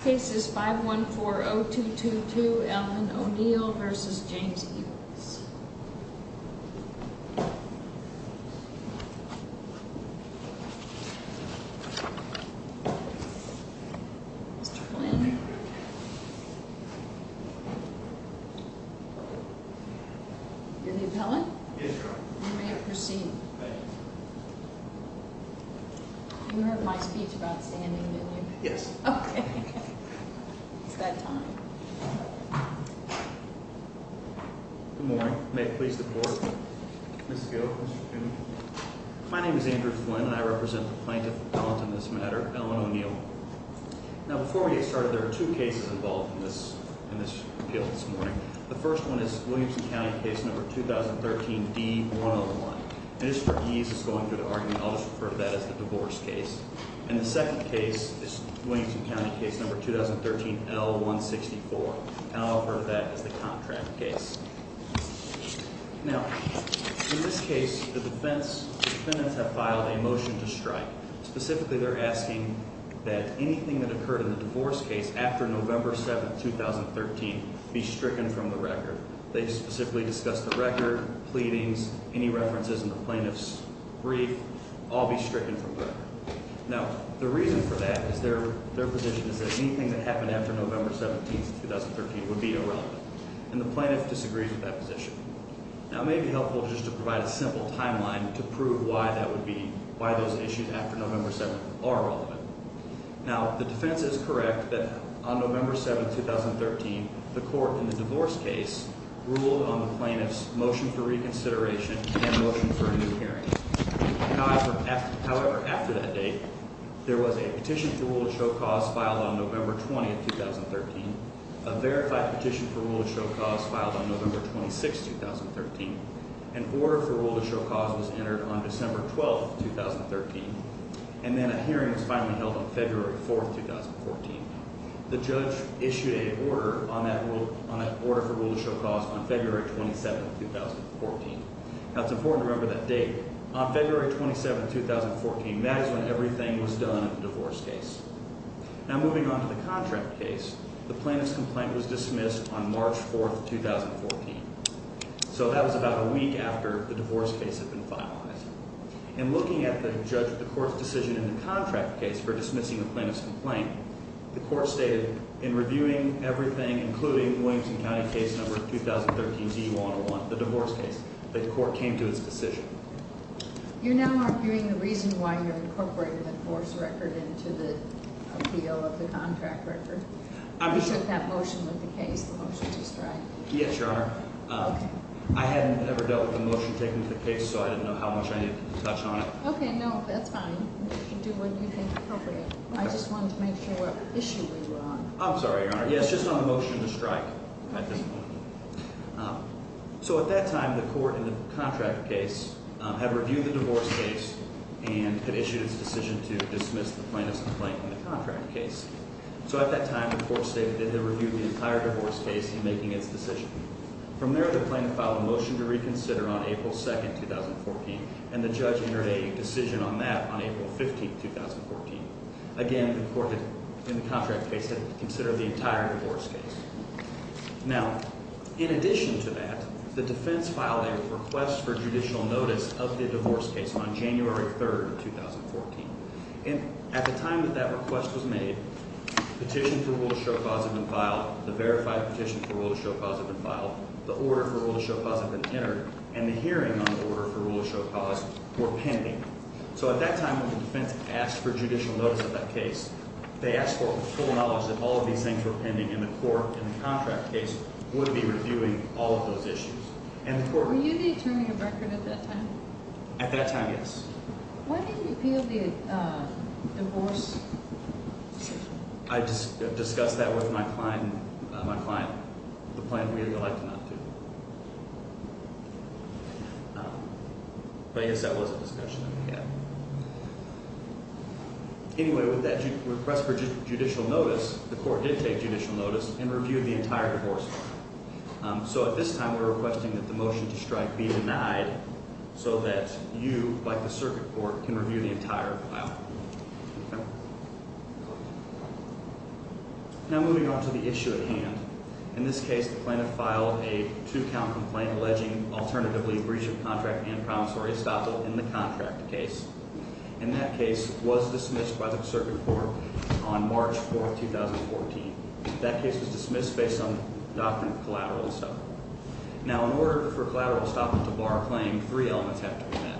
Case is 514-0222, Allen O'Neill v. James Eberts Mr. Flynn You're the appellant? Yes, Your Honor You may proceed Thank you You heard my speech about standing, didn't you? Yes Okay, okay It's that time Good morning, may it please the Court Mr. Gil, Mr. Kuhn My name is Andrew Flynn and I represent the plaintiff appellant in this matter, Allen O'Neill Now before we get started, there are two cases involved in this, in this appeal this morning The first one is Williamson County case number 2013-D-101 And just for ease of going through the argument, I'll just refer to that as the divorce case And the second case is Williamson County case number 2013-L-164 And I'll refer to that as the contract case Now, in this case, the defense, the defendants have filed a motion to strike Specifically, they're asking that anything that occurred in the divorce case after November 7, 2013 be stricken from the record They specifically discussed the record, pleadings, any references in the plaintiff's brief, all be stricken from the record Now, the reason for that is their position is that anything that happened after November 17, 2013 would be irrelevant And the plaintiff disagrees with that position Now it may be helpful just to provide a simple timeline to prove why that would be, why those issues after November 7 are relevant Now, the defense is correct that on November 7, 2013, the court in the divorce case ruled on the plaintiff's motion for reconsideration and motion for a new hearing However, after that date, there was a petition for rule of show cause filed on November 20, 2013 A verified petition for rule of show cause filed on November 26, 2013 An order for rule of show cause was entered on December 12, 2013 And then a hearing was finally held on February 4, 2014 The judge issued an order for rule of show cause on February 27, 2014 Now, it's important to remember that date On February 27, 2014, that is when everything was done in the divorce case Now, moving on to the contract case, the plaintiff's complaint was dismissed on March 4, 2014 So that was about a week after the divorce case had been finalized And looking at the court's decision in the contract case for dismissing the plaintiff's complaint The court stated in reviewing everything, including the Williamson County case number 2013-D101, the divorce case, that the court came to its decision You now are viewing the reason why you're incorporating the divorce record into the appeal of the contract record You took that motion with the case, the motion to strike Yes, Your Honor I hadn't ever dealt with the motion taken to the case, so I didn't know how much I needed to touch on it Okay, no, that's fine Do what you think is appropriate I just wanted to make sure what issue we were on I'm sorry, Your Honor. Yes, just on the motion to strike at this point So at that time, the court in the contract case had reviewed the divorce case And had issued its decision to dismiss the plaintiff's complaint in the contract case So at that time, the court stated that it had reviewed the entire divorce case in making its decision From there, the plaintiff filed a motion to reconsider on April 2, 2014 And the judge entered a decision on that on April 15, 2014 Again, the court in the contract case had considered the entire divorce case Now, in addition to that, the defense filed a request for judicial notice of the divorce case on January 3, 2014 And at the time that that request was made, the petition for rule of show-cause had been filed The verified petition for rule of show-cause had been filed The order for rule of show-cause had been entered And the hearing on the order for rule of show-cause were pending So at that time, when the defense asked for judicial notice of that case They asked for full knowledge that all of these things were pending And the court in the contract case would be reviewing all of those issues Were you the attorney of record at that time? At that time, yes When did you appeal the divorce? I discussed that with my client The plan we had elected not to But I guess that was a discussion that we had Anyway, with that request for judicial notice, the court did take judicial notice And reviewed the entire divorce So at this time, we're requesting that the motion to strike be denied So that you, like the circuit court, can review the entire file Now moving on to the issue at hand In this case, the plaintiff filed a two-count complaint Alleging alternatively breach of contract and promissory estoppel in the contract case And that case was dismissed by the circuit court on March 4, 2014 That case was dismissed based on the doctrine of collateral estoppel Now in order for collateral estoppel to bar a claim, three elements have to be met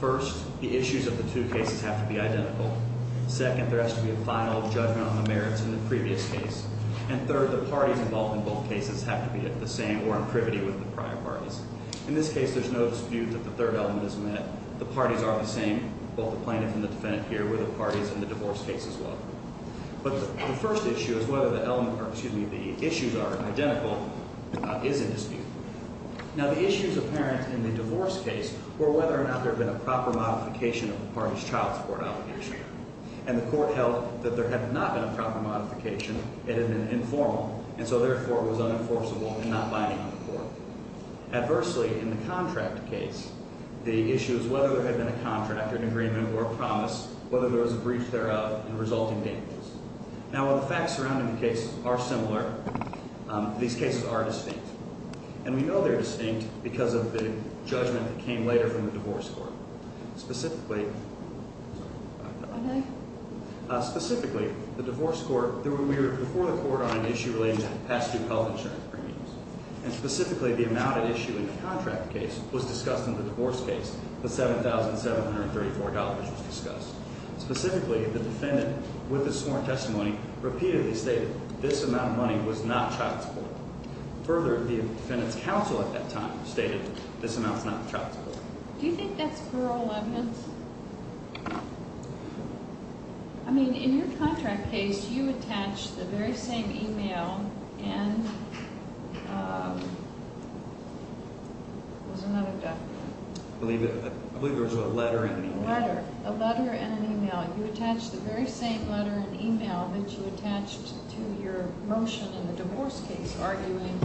First, the issues of the two cases have to be identical Second, there has to be a final judgment on the merits in the previous case And third, the parties involved in both cases have to be the same or in privity with the prior parties In this case, there's no dispute that the third element is met The parties are the same, both the plaintiff and the defendant here Were the parties in the divorce case as well Now the issues apparent in the divorce case were whether or not there had been a proper modification of the parties' child support obligation And the court held that there had not been a proper modification It had been informal, and so therefore it was unenforceable and not binding on the court Adversely, in the contract case, the issue is whether there had been a contract or an agreement or a promise Whether there was a breach thereof and resulting damages Now while the facts surrounding the case are similar, these cases are distinct And we know they're distinct because of the judgment that came later from the divorce court Specifically, the divorce court, we were before the court on an issue relating to past due health insurance premiums And specifically, the amount at issue in the contract case was discussed in the divorce case The $7,734 was discussed Specifically, the defendant, with his sworn testimony, repeatedly stated this amount of money was not child support Further, the defendant's counsel at that time stated this amount was not child support Do you think that's plural evidence? I mean, in your contract case, you attached the very same email and... There's another document I believe there was a letter and an email A letter, a letter and an email You attached the very same letter and email that you attached to your motion in the divorce case Arguing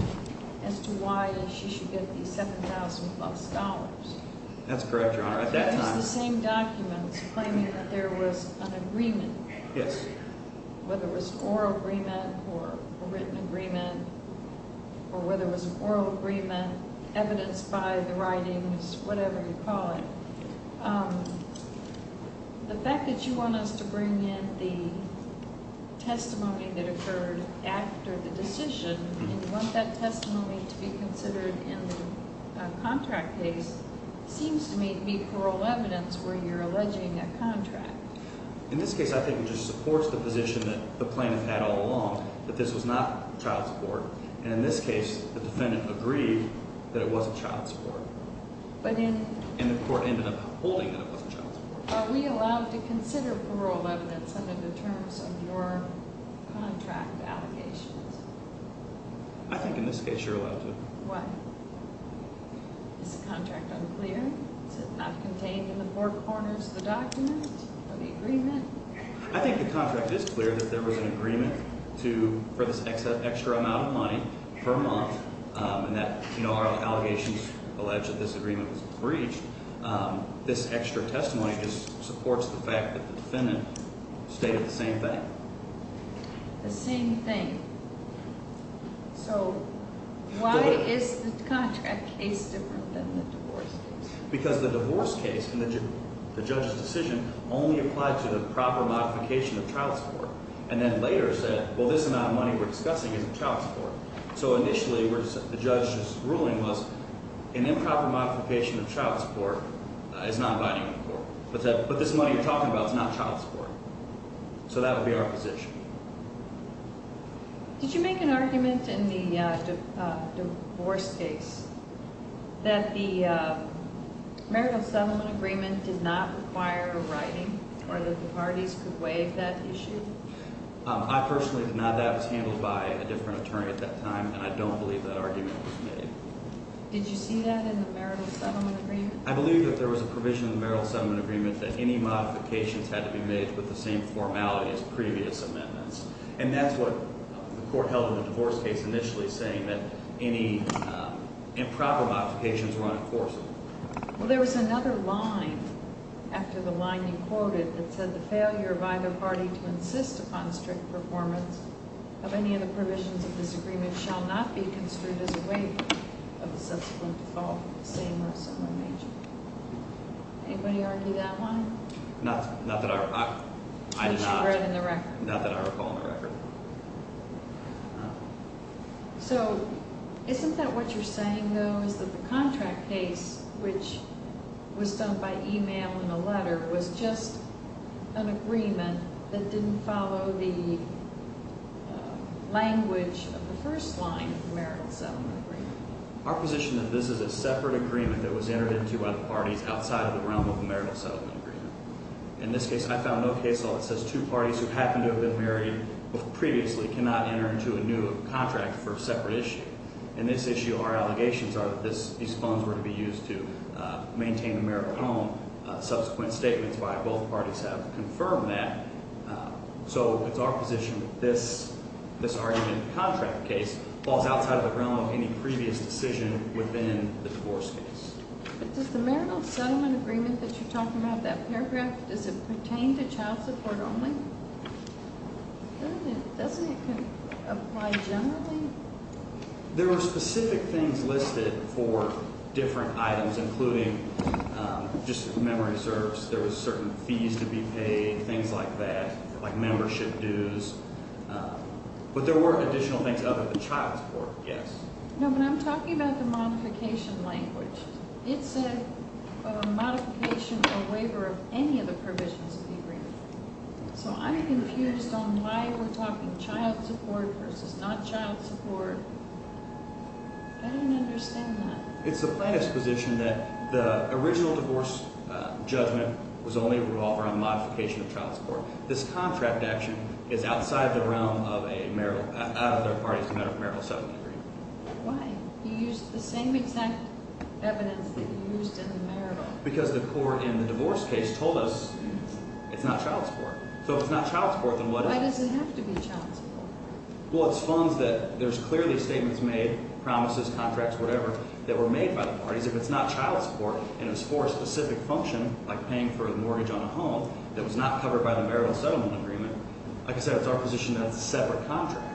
as to why she should get these $7,000 That's correct, Your Honor It's the same documents claiming that there was an agreement Yes Whether it was an oral agreement or a written agreement Or whether it was an oral agreement, evidenced by the writings, whatever you call it The fact that you want us to bring in the testimony that occurred after the decision And you want that testimony to be considered in the contract case Seems to me to be plural evidence where you're alleging a contract In this case, I think it just supports the position that the plaintiff had all along That this was not child support And in this case, the defendant agreed that it wasn't child support And the court ended up holding that it wasn't child support Are we allowed to consider plural evidence under the terms of your contract allegations? I think in this case you're allowed to Why? Is the contract unclear? Is it not contained in the four corners of the document? Or the agreement? I think the contract is clear that there was an agreement For this extra amount of money per month And that our allegations allege that this agreement was breached This extra testimony just supports the fact that the defendant stated the same thing The same thing So, why is the contract case different than the divorce case? Because the divorce case and the judge's decision only applied to the proper modification of child support And then later said, well this amount of money we're discussing isn't child support So initially, the judge's ruling was an improper modification of child support is not binding the court But this money you're talking about is not child support So that would be our position Did you make an argument in the divorce case That the marital settlement agreement did not require a writing Or that the parties could waive that issue? I personally did not. That was handled by a different attorney at that time And I don't believe that argument was made Did you see that in the marital settlement agreement? I believe that there was a provision in the marital settlement agreement That any modifications had to be made with the same formality as previous amendments And that's what the court held in the divorce case initially Saying that any improper modifications were unenforceable Well, there was another line after the line you quoted That said the failure by the party to insist upon strict performance Of any of the provisions of this agreement shall not be construed as a waiver Of the subsequent default of the same or similar measure Anybody argue that line? Not that I recall in the record So, isn't that what you're saying though Is that the contract case, which was done by email and a letter Was just an agreement that didn't follow the language Of the first line of the marital settlement agreement? Our position is that this is a separate agreement That was entered into by the parties Outside of the realm of the marital settlement agreement In this case, I found no case law that says Two parties who happen to have been married previously Cannot enter into a new contract for a separate issue In this issue, our allegations are that these funds were to be used To maintain the marital home Subsequent statements by both parties have confirmed that So it's our position that this argument in the contract case Falls outside of the realm of any previous decision Within the divorce case But does the marital settlement agreement that you're talking about That paragraph, does it pertain to child support only? Doesn't it apply generally? There were specific things listed for different items Including just memory service There were certain fees to be paid, things like that Like membership dues But there were additional things other than child support, yes No, but I'm talking about the modification language It's a modification or waiver of any of the provisions of the agreement So I'm confused on why we're talking child support I don't understand that It's the plaintiff's position that the original divorce judgment Was only to offer a modification of child support This contract action is outside the realm of a marital Out of the parties' marital settlement agreement Why? You used the same exact evidence that you used in the marital Because the court in the divorce case told us it's not child support So if it's not child support, then what is? Why does it have to be child support? Well, it's funds that, there's clearly statements made Promises, contracts, whatever, that were made by the parties If it's not child support, and it's for a specific function Like paying for a mortgage on a home That was not covered by the marital settlement agreement Like I said, it's our position that it's a separate contract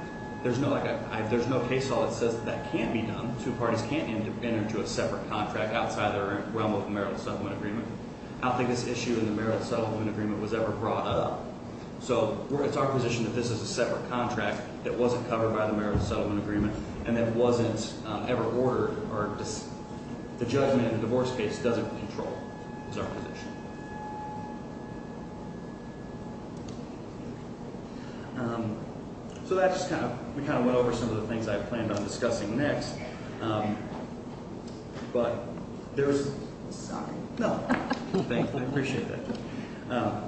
There's no case law that says that can't be done Two parties can't enter into a separate contract Outside their realm of a marital settlement agreement I don't think this issue in the marital settlement agreement was ever brought up So it's our position that this is a separate contract That wasn't covered by the marital settlement agreement And that wasn't ever ordered or The judgment in the divorce case doesn't control Is our position So that just kind of, we kind of went over some of the things I planned on discussing next But, there's Sorry No, thank you, I appreciate that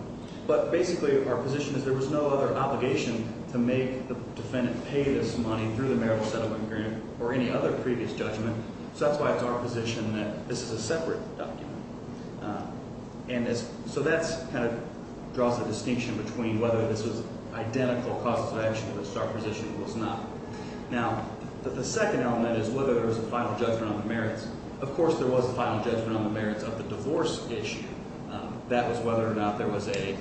But basically, our position is there was no other obligation To make the defendant pay this money through the marital settlement agreement Or any other previous judgment So that's why it's our position that this is a separate document And so that kind of draws the distinction between Whether this was identical causes of action to this Our position was not Now, the second element is whether there was a final judgment on the merits Of course there was a final judgment on the merits of the divorce issue That was whether or not there was a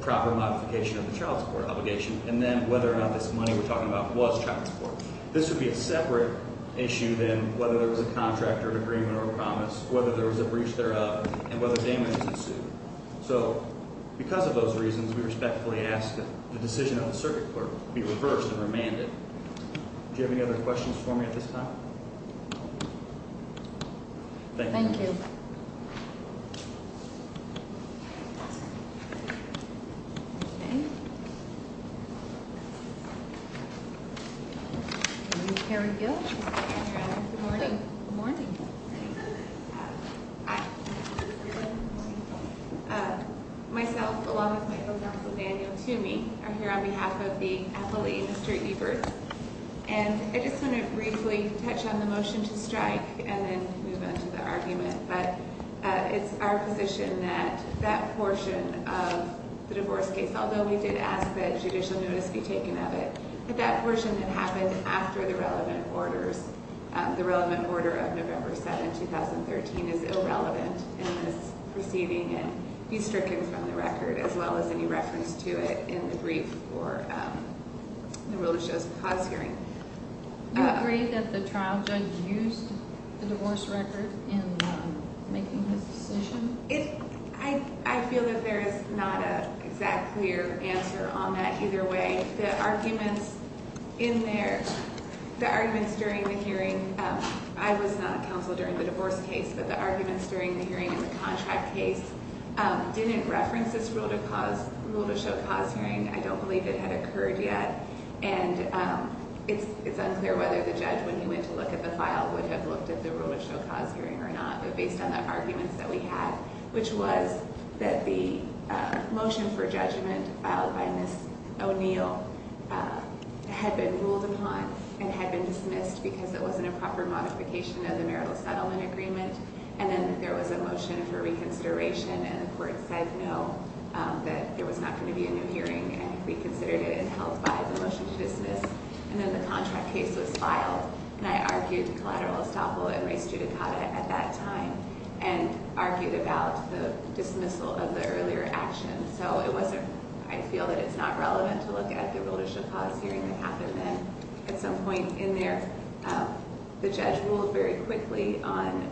Proper modification of the child support obligation And then whether or not this money we're talking about was child support This would be a separate issue than whether there was a contract or an agreement or a promise Whether there was a breach thereof And whether damages ensued So, because of those reasons We respectfully ask that the decision of the circuit court be reversed and remanded Do you have any other questions for me at this time? Thank you Thank you Okay Mary Gilch Good morning Myself, along with my co-counsel Daniel Toomey Are here on behalf of the appellee, Mr. Ebert And I just want to briefly touch on the motion to strike And then move on to the argument But it's our position that that portion of the divorce case Although we did ask that judicial notice be taken of it But that portion had happened after the relevant orders The relevant order of November 7, 2013 is irrelevant in this proceeding And be stricken from the record As well as any reference to it in the brief for the religious cause hearing Do you agree that the trial judge used the divorce record in making his decision? I feel that there is not an exact clear answer on that either way The arguments in there The arguments during the hearing I was not counsel during the divorce case But the arguments during the hearing in the contract case Didn't reference this rule to show cause hearing I don't believe it had occurred yet And it's unclear whether the judge when he went to look at the file Would have looked at the rule of show cause hearing or not But based on the arguments that we had Which was that the motion for judgment filed by Ms. O'Neill Had been ruled upon and had been dismissed Because it wasn't a proper modification of the marital settlement agreement And then there was a motion for reconsideration And the court said no That there was not going to be a new hearing And reconsidered it and held by the motion to dismiss And then the contract case was filed And I argued collateral estoppel and res judicata at that time And argued about the dismissal of the earlier action So it wasn't I feel that it's not relevant to look at the rule of show cause hearing That happened then At some point in there The judge ruled very quickly on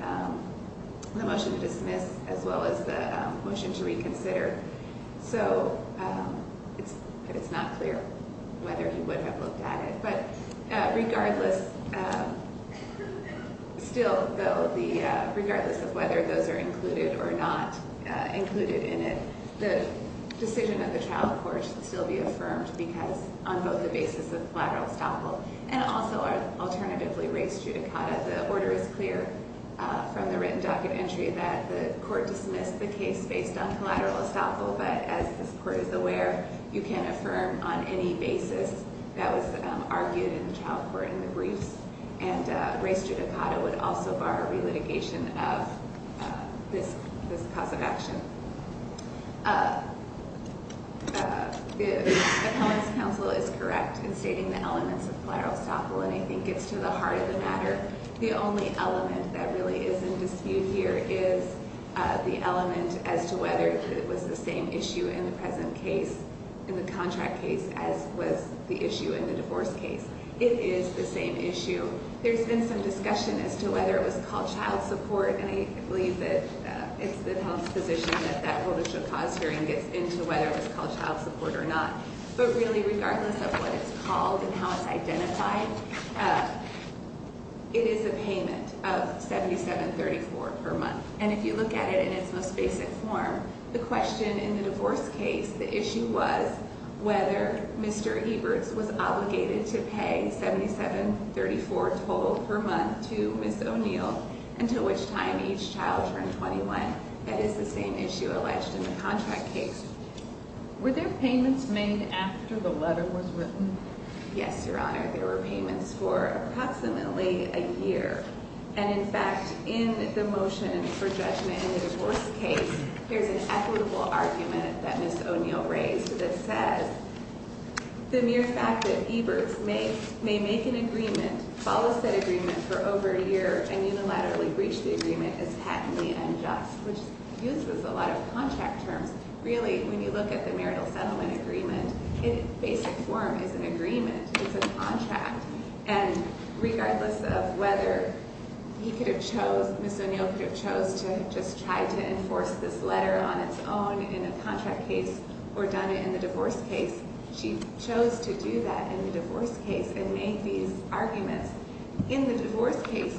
the motion to dismiss As well as the motion to reconsider So it's not clear whether he would have looked at it But regardless Still though Regardless of whether those are included or not Included in it The decision of the trial court should still be affirmed Because on both the basis of collateral estoppel And also our alternatively res judicata The order is clear from the written docket entry That the court dismissed the case based on collateral estoppel But as this court is aware You can't affirm on any basis That was argued in the trial court in the briefs And res judicata would also bar Relitigation of this cause of action The appellant's counsel is correct In stating the elements of collateral estoppel And I think it's to the heart of the matter The only element that really is in dispute here Is the element as to whether it was the same issue In the present case In the contract case As was the issue in the divorce case It is the same issue There's been some discussion As to whether it was called child support And I believe that it's the appellant's position That that judicial cause hearing gets into Whether it was called child support or not But really regardless of what it's called And how it's identified It is a payment of $77.34 per month And if you look at it in its most basic form The question in the divorce case The issue was whether Mr. Eberts Was obligated to pay $77.34 total per month To Ms. O'Neill Until which time each child turned 21 That is the same issue alleged in the contract case Were there payments made after the letter was written? Yes, Your Honor There were payments for approximately a year And in fact in the motion for judgment in the divorce case There's an equitable argument that Ms. O'Neill raised That says the mere fact that Eberts may make an agreement Follow said agreement for over a year And unilaterally breach the agreement Is patently unjust Which uses a lot of contract terms Really when you look at the marital settlement agreement In basic form is an agreement It's a contract And regardless of whether he could have chose Ms. O'Neill could have chose to just try to enforce this letter On its own in a contract case Or done it in the divorce case She chose to do that in the divorce case And make these arguments In the divorce case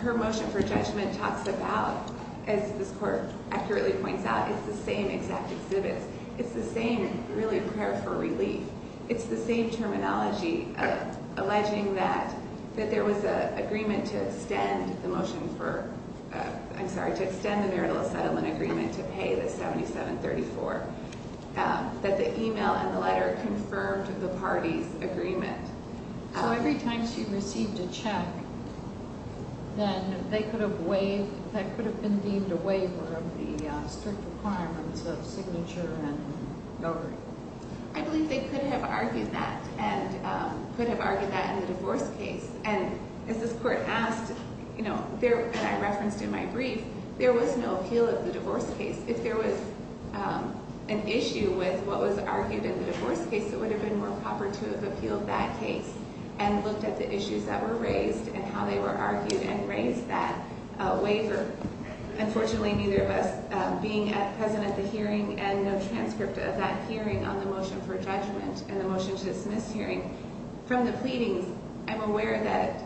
Her motion for judgment talks about As this Court accurately points out It's the same exact exhibits It's the same really a prayer for relief It's the same terminology Alleging that there was an agreement To extend the marital settlement agreement To pay the $77.34 That the email and the letter Confirmed the party's agreement So every time she received a check Then they could have waived That could have been deemed a waiver Because of the strict requirements of signature And no agreement I believe they could have argued that And could have argued that in the divorce case And as this Court asked And I referenced in my brief There was no appeal of the divorce case If there was an issue With what was argued in the divorce case It would have been more proper To have appealed that case And looked at the issues that were raised And how they were argued And raised that waiver Unfortunately neither of us Being present at the hearing And no transcript of that hearing On the motion for judgment And the motion to dismiss hearing From the pleadings I'm aware that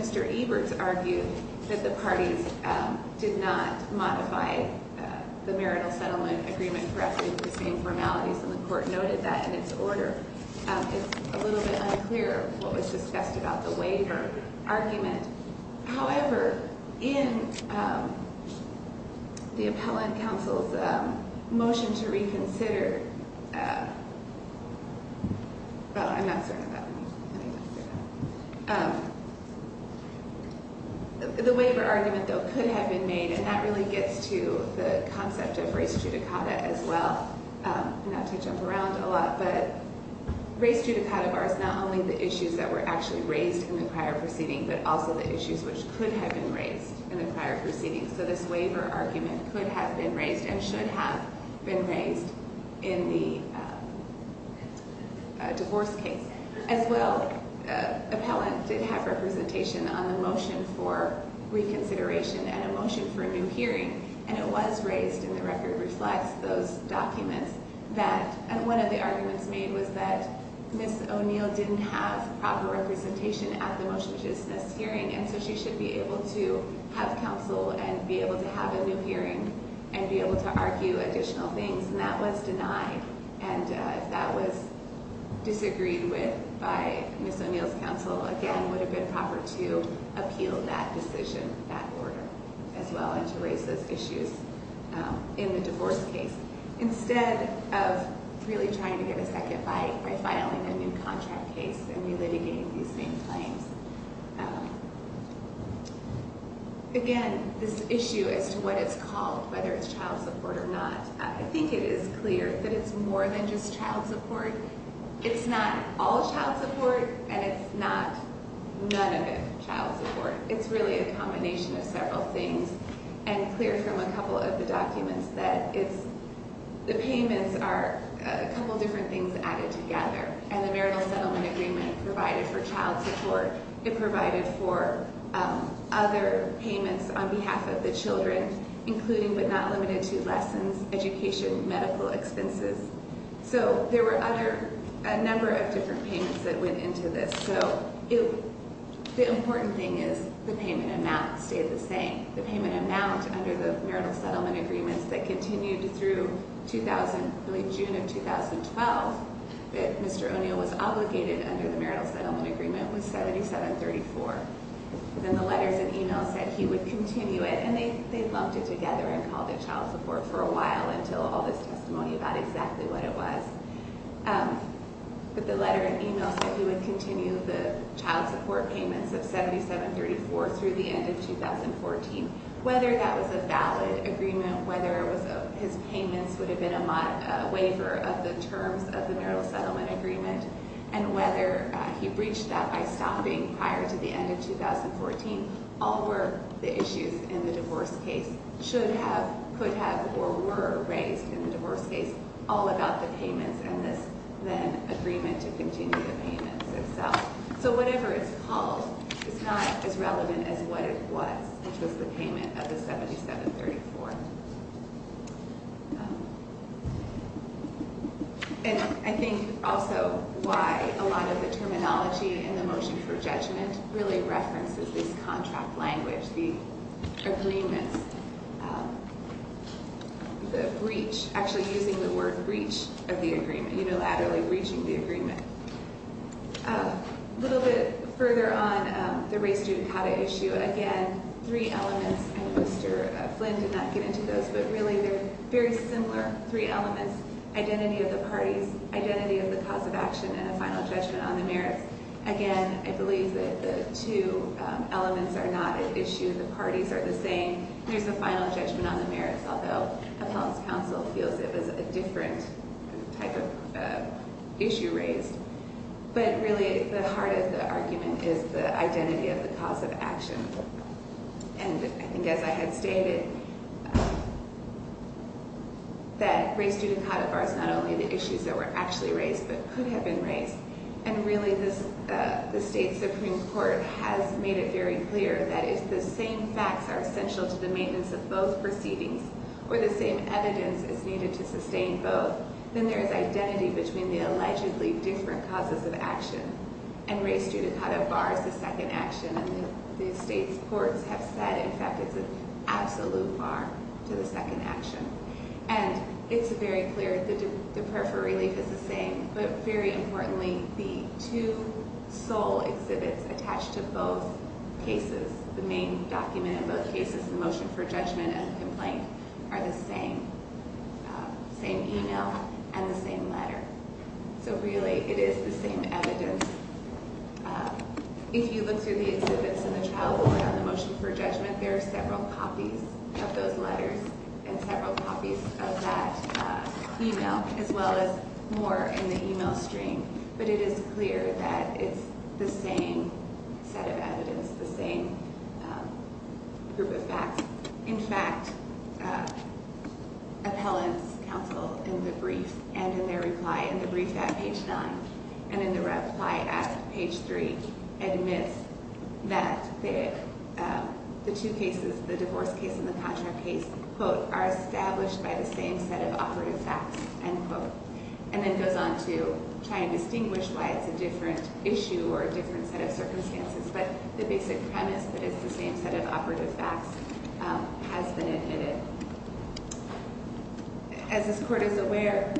Mr. Eberts argued That the parties did not modify The marital settlement agreement correctly With the same formalities And the Court noted that in its order It's a little bit unclear What was discussed about the waiver argument However, in the Appellant Counsel's Motion to reconsider The waiver argument though Could have been made And that really gets to The concept of res judicata as well Not to jump around a lot But res judicata Was not only the issues That were actually raised In the prior proceeding But also the issues Which could have been raised In the prior proceeding So this waiver argument Could have been raised And should have been raised In the divorce case As well, Appellant did have representation On the motion for reconsideration And a motion for a new hearing And it was raised And the record reflects those documents That one of the arguments made Was that Ms. O'Neill Didn't have proper representation At the motion to dismiss hearing And so she should be able to Have counsel And be able to have a new hearing And be able to argue additional things And that was denied And if that was disagreed with By Ms. O'Neill's counsel Again, it would have been proper To appeal that decision That order As well, and to raise those issues In the divorce case Instead of really trying to get a second bite By filing a new contract case And re-litigating these same claims Again, this issue as to what it's called Whether it's child support or not I think it is clear That it's more than just child support It's not all child support And it's not none of it child support It's really a combination of several things And clear from a couple of the documents That the payments are A couple different things added together And the marital settlement agreement Provided for child support It provided for other payments On behalf of the children Including, but not limited to Lessons, education, medical expenses So there were other A number of different payments That went into this So the important thing is The payment amount stayed the same The payment amount Under the marital settlement agreements That continued through 2000 Really June of 2012 That Mr. O'Neill was obligated Under the marital settlement agreement Was 7734 Then the letters and emails Said he would continue it And they lumped it together And called it child support For a while Until all this testimony About exactly what it was But the letter and email Said he would continue The child support payments Of 7734 through the end of 2014 Whether that was a valid agreement Whether his payments Would have been a waiver Of the terms of the marital settlement agreement And whether he breached that By stopping prior to the end of 2014 All were the issues in the divorce case Should have, could have, or were Raised in the divorce case All about the payments And this then agreement To continue the payments itself So whatever it's called Is not as relevant as what it was Which was the payment of the 7734 And I think also why A lot of the terminology In the motion for judgment Really references this contract language The agreements The breach Actually using the word breach Of the agreement Unilaterally breaching the agreement A little bit further on The race student how to issue Again, three elements And Mr. Flynn did not get into those But really they're very similar Three elements Identity of the parties Identity of the cause of action And a final judgment on the merits Again, I believe that the two elements Are not an issue The parties are the same There's a final judgment on the merits Although the House Counsel feels It was a different type of issue raised But really the heart of the argument Is the identity of the cause of action And I think as I had stated That race judicata Is not only the issues That were actually raised But could have been raised And really the State Supreme Court Has made it very clear That if the same facts Are essential to the maintenance Of both proceedings Or the same evidence Is needed to sustain both Then there is identity Between the allegedly Different causes of action And race judicata Bars the second action And the State's courts have said That in fact it's an absolute bar To the second action And it's very clear The prayer for relief is the same But very importantly The two sole exhibits Attached to both cases The main document in both cases The motion for judgment And the complaint Are the same Same email And the same letter So really it is the same evidence If you look through the exhibits In the trial On the motion for judgment There are several copies Of those letters And several copies Of that email As well as more In the email stream But it is clear That it's the same set of evidence The same group of facts In fact Appellants counsel In the brief And in their reply In the brief at page 9 And in the reply at page 3 Admits That The two cases The divorce case And the contract case Quote Are established by the same set of operative facts End quote And then goes on to Try and distinguish Why it's a different issue Or a different set of circumstances But the basic premise That it's the same set of operative facts Has been admitted As this court is aware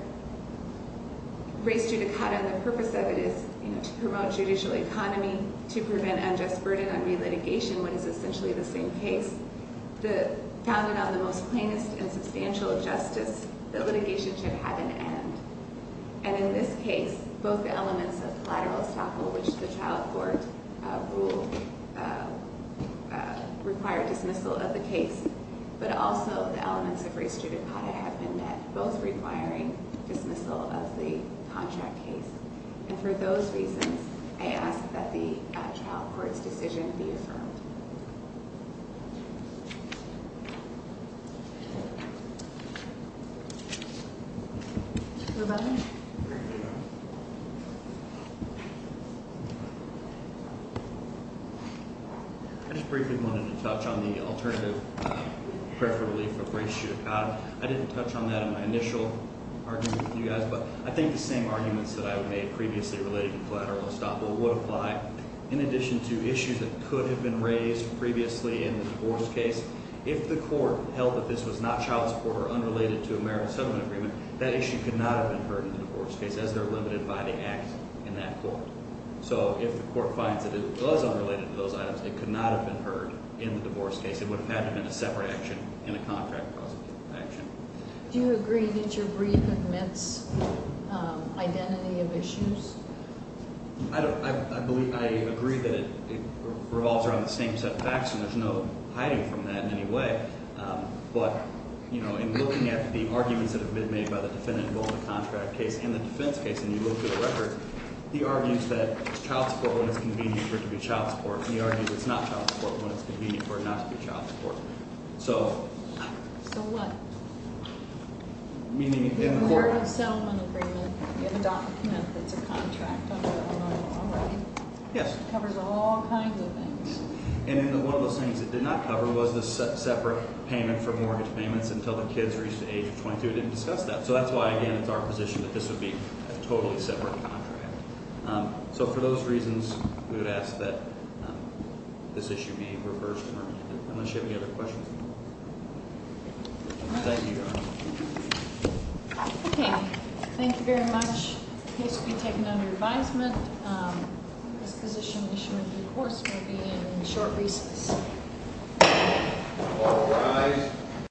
Race judicata And the purpose of it is You know To promote judicial economy To prevent unjust burden On re-litigation When it's essentially the same case The Founded on the most plainest And substantial justice That litigation should have an end And in this case Both elements of collateral estoppel Which the trial court Ruled Required dismissal of the case But also The elements of race judicata Have been met Both requiring Dismissal of the contract case And for those reasons I ask that the Trial court's decision be affirmed Rebuttal I just briefly wanted to touch on the alternative Preferably for race judicata I didn't touch on that In my initial argument with you guys But I think the same arguments That I made previously Related to collateral estoppel Would apply In addition to issues That could have been raised Previously in the divorce case If the court held That this was not child support Or unrelated to American settlement agreement That issue could not have been heard In the divorce case As they're limited by the act In that court So if the court finds That it was unrelated to those items It could not have been heard In the divorce case It would have had to have been A separate action And a contract cause of action Do you agree that your brief Admits Identity of issues? I believe I agree that it Revolves around the same set of facts And there's no Hiding from that in any way But In looking at the arguments That have been made By the defendant Involved in the contract case And the defense case And you look at the records He argues that It's child support When it's convenient For it to be child support And he argues It's not child support When it's convenient For it not to be child support So So what? Meaning In the court There's a settlement agreement In the document That's a contract Under the law Already Yes It covers all kinds of things And in the One of those things It did not cover Was the separate payment For mortgage payments Until the kids Reached the age of 22 It didn't discuss that So that's why Again it's our position That this would be A totally separate contract So for those reasons We would ask that This issue be reversed Unless you have any other questions Thank you Okay Thank you very much The case will be taken Under advisement This position Issue with the courts Will be in Short recess All rise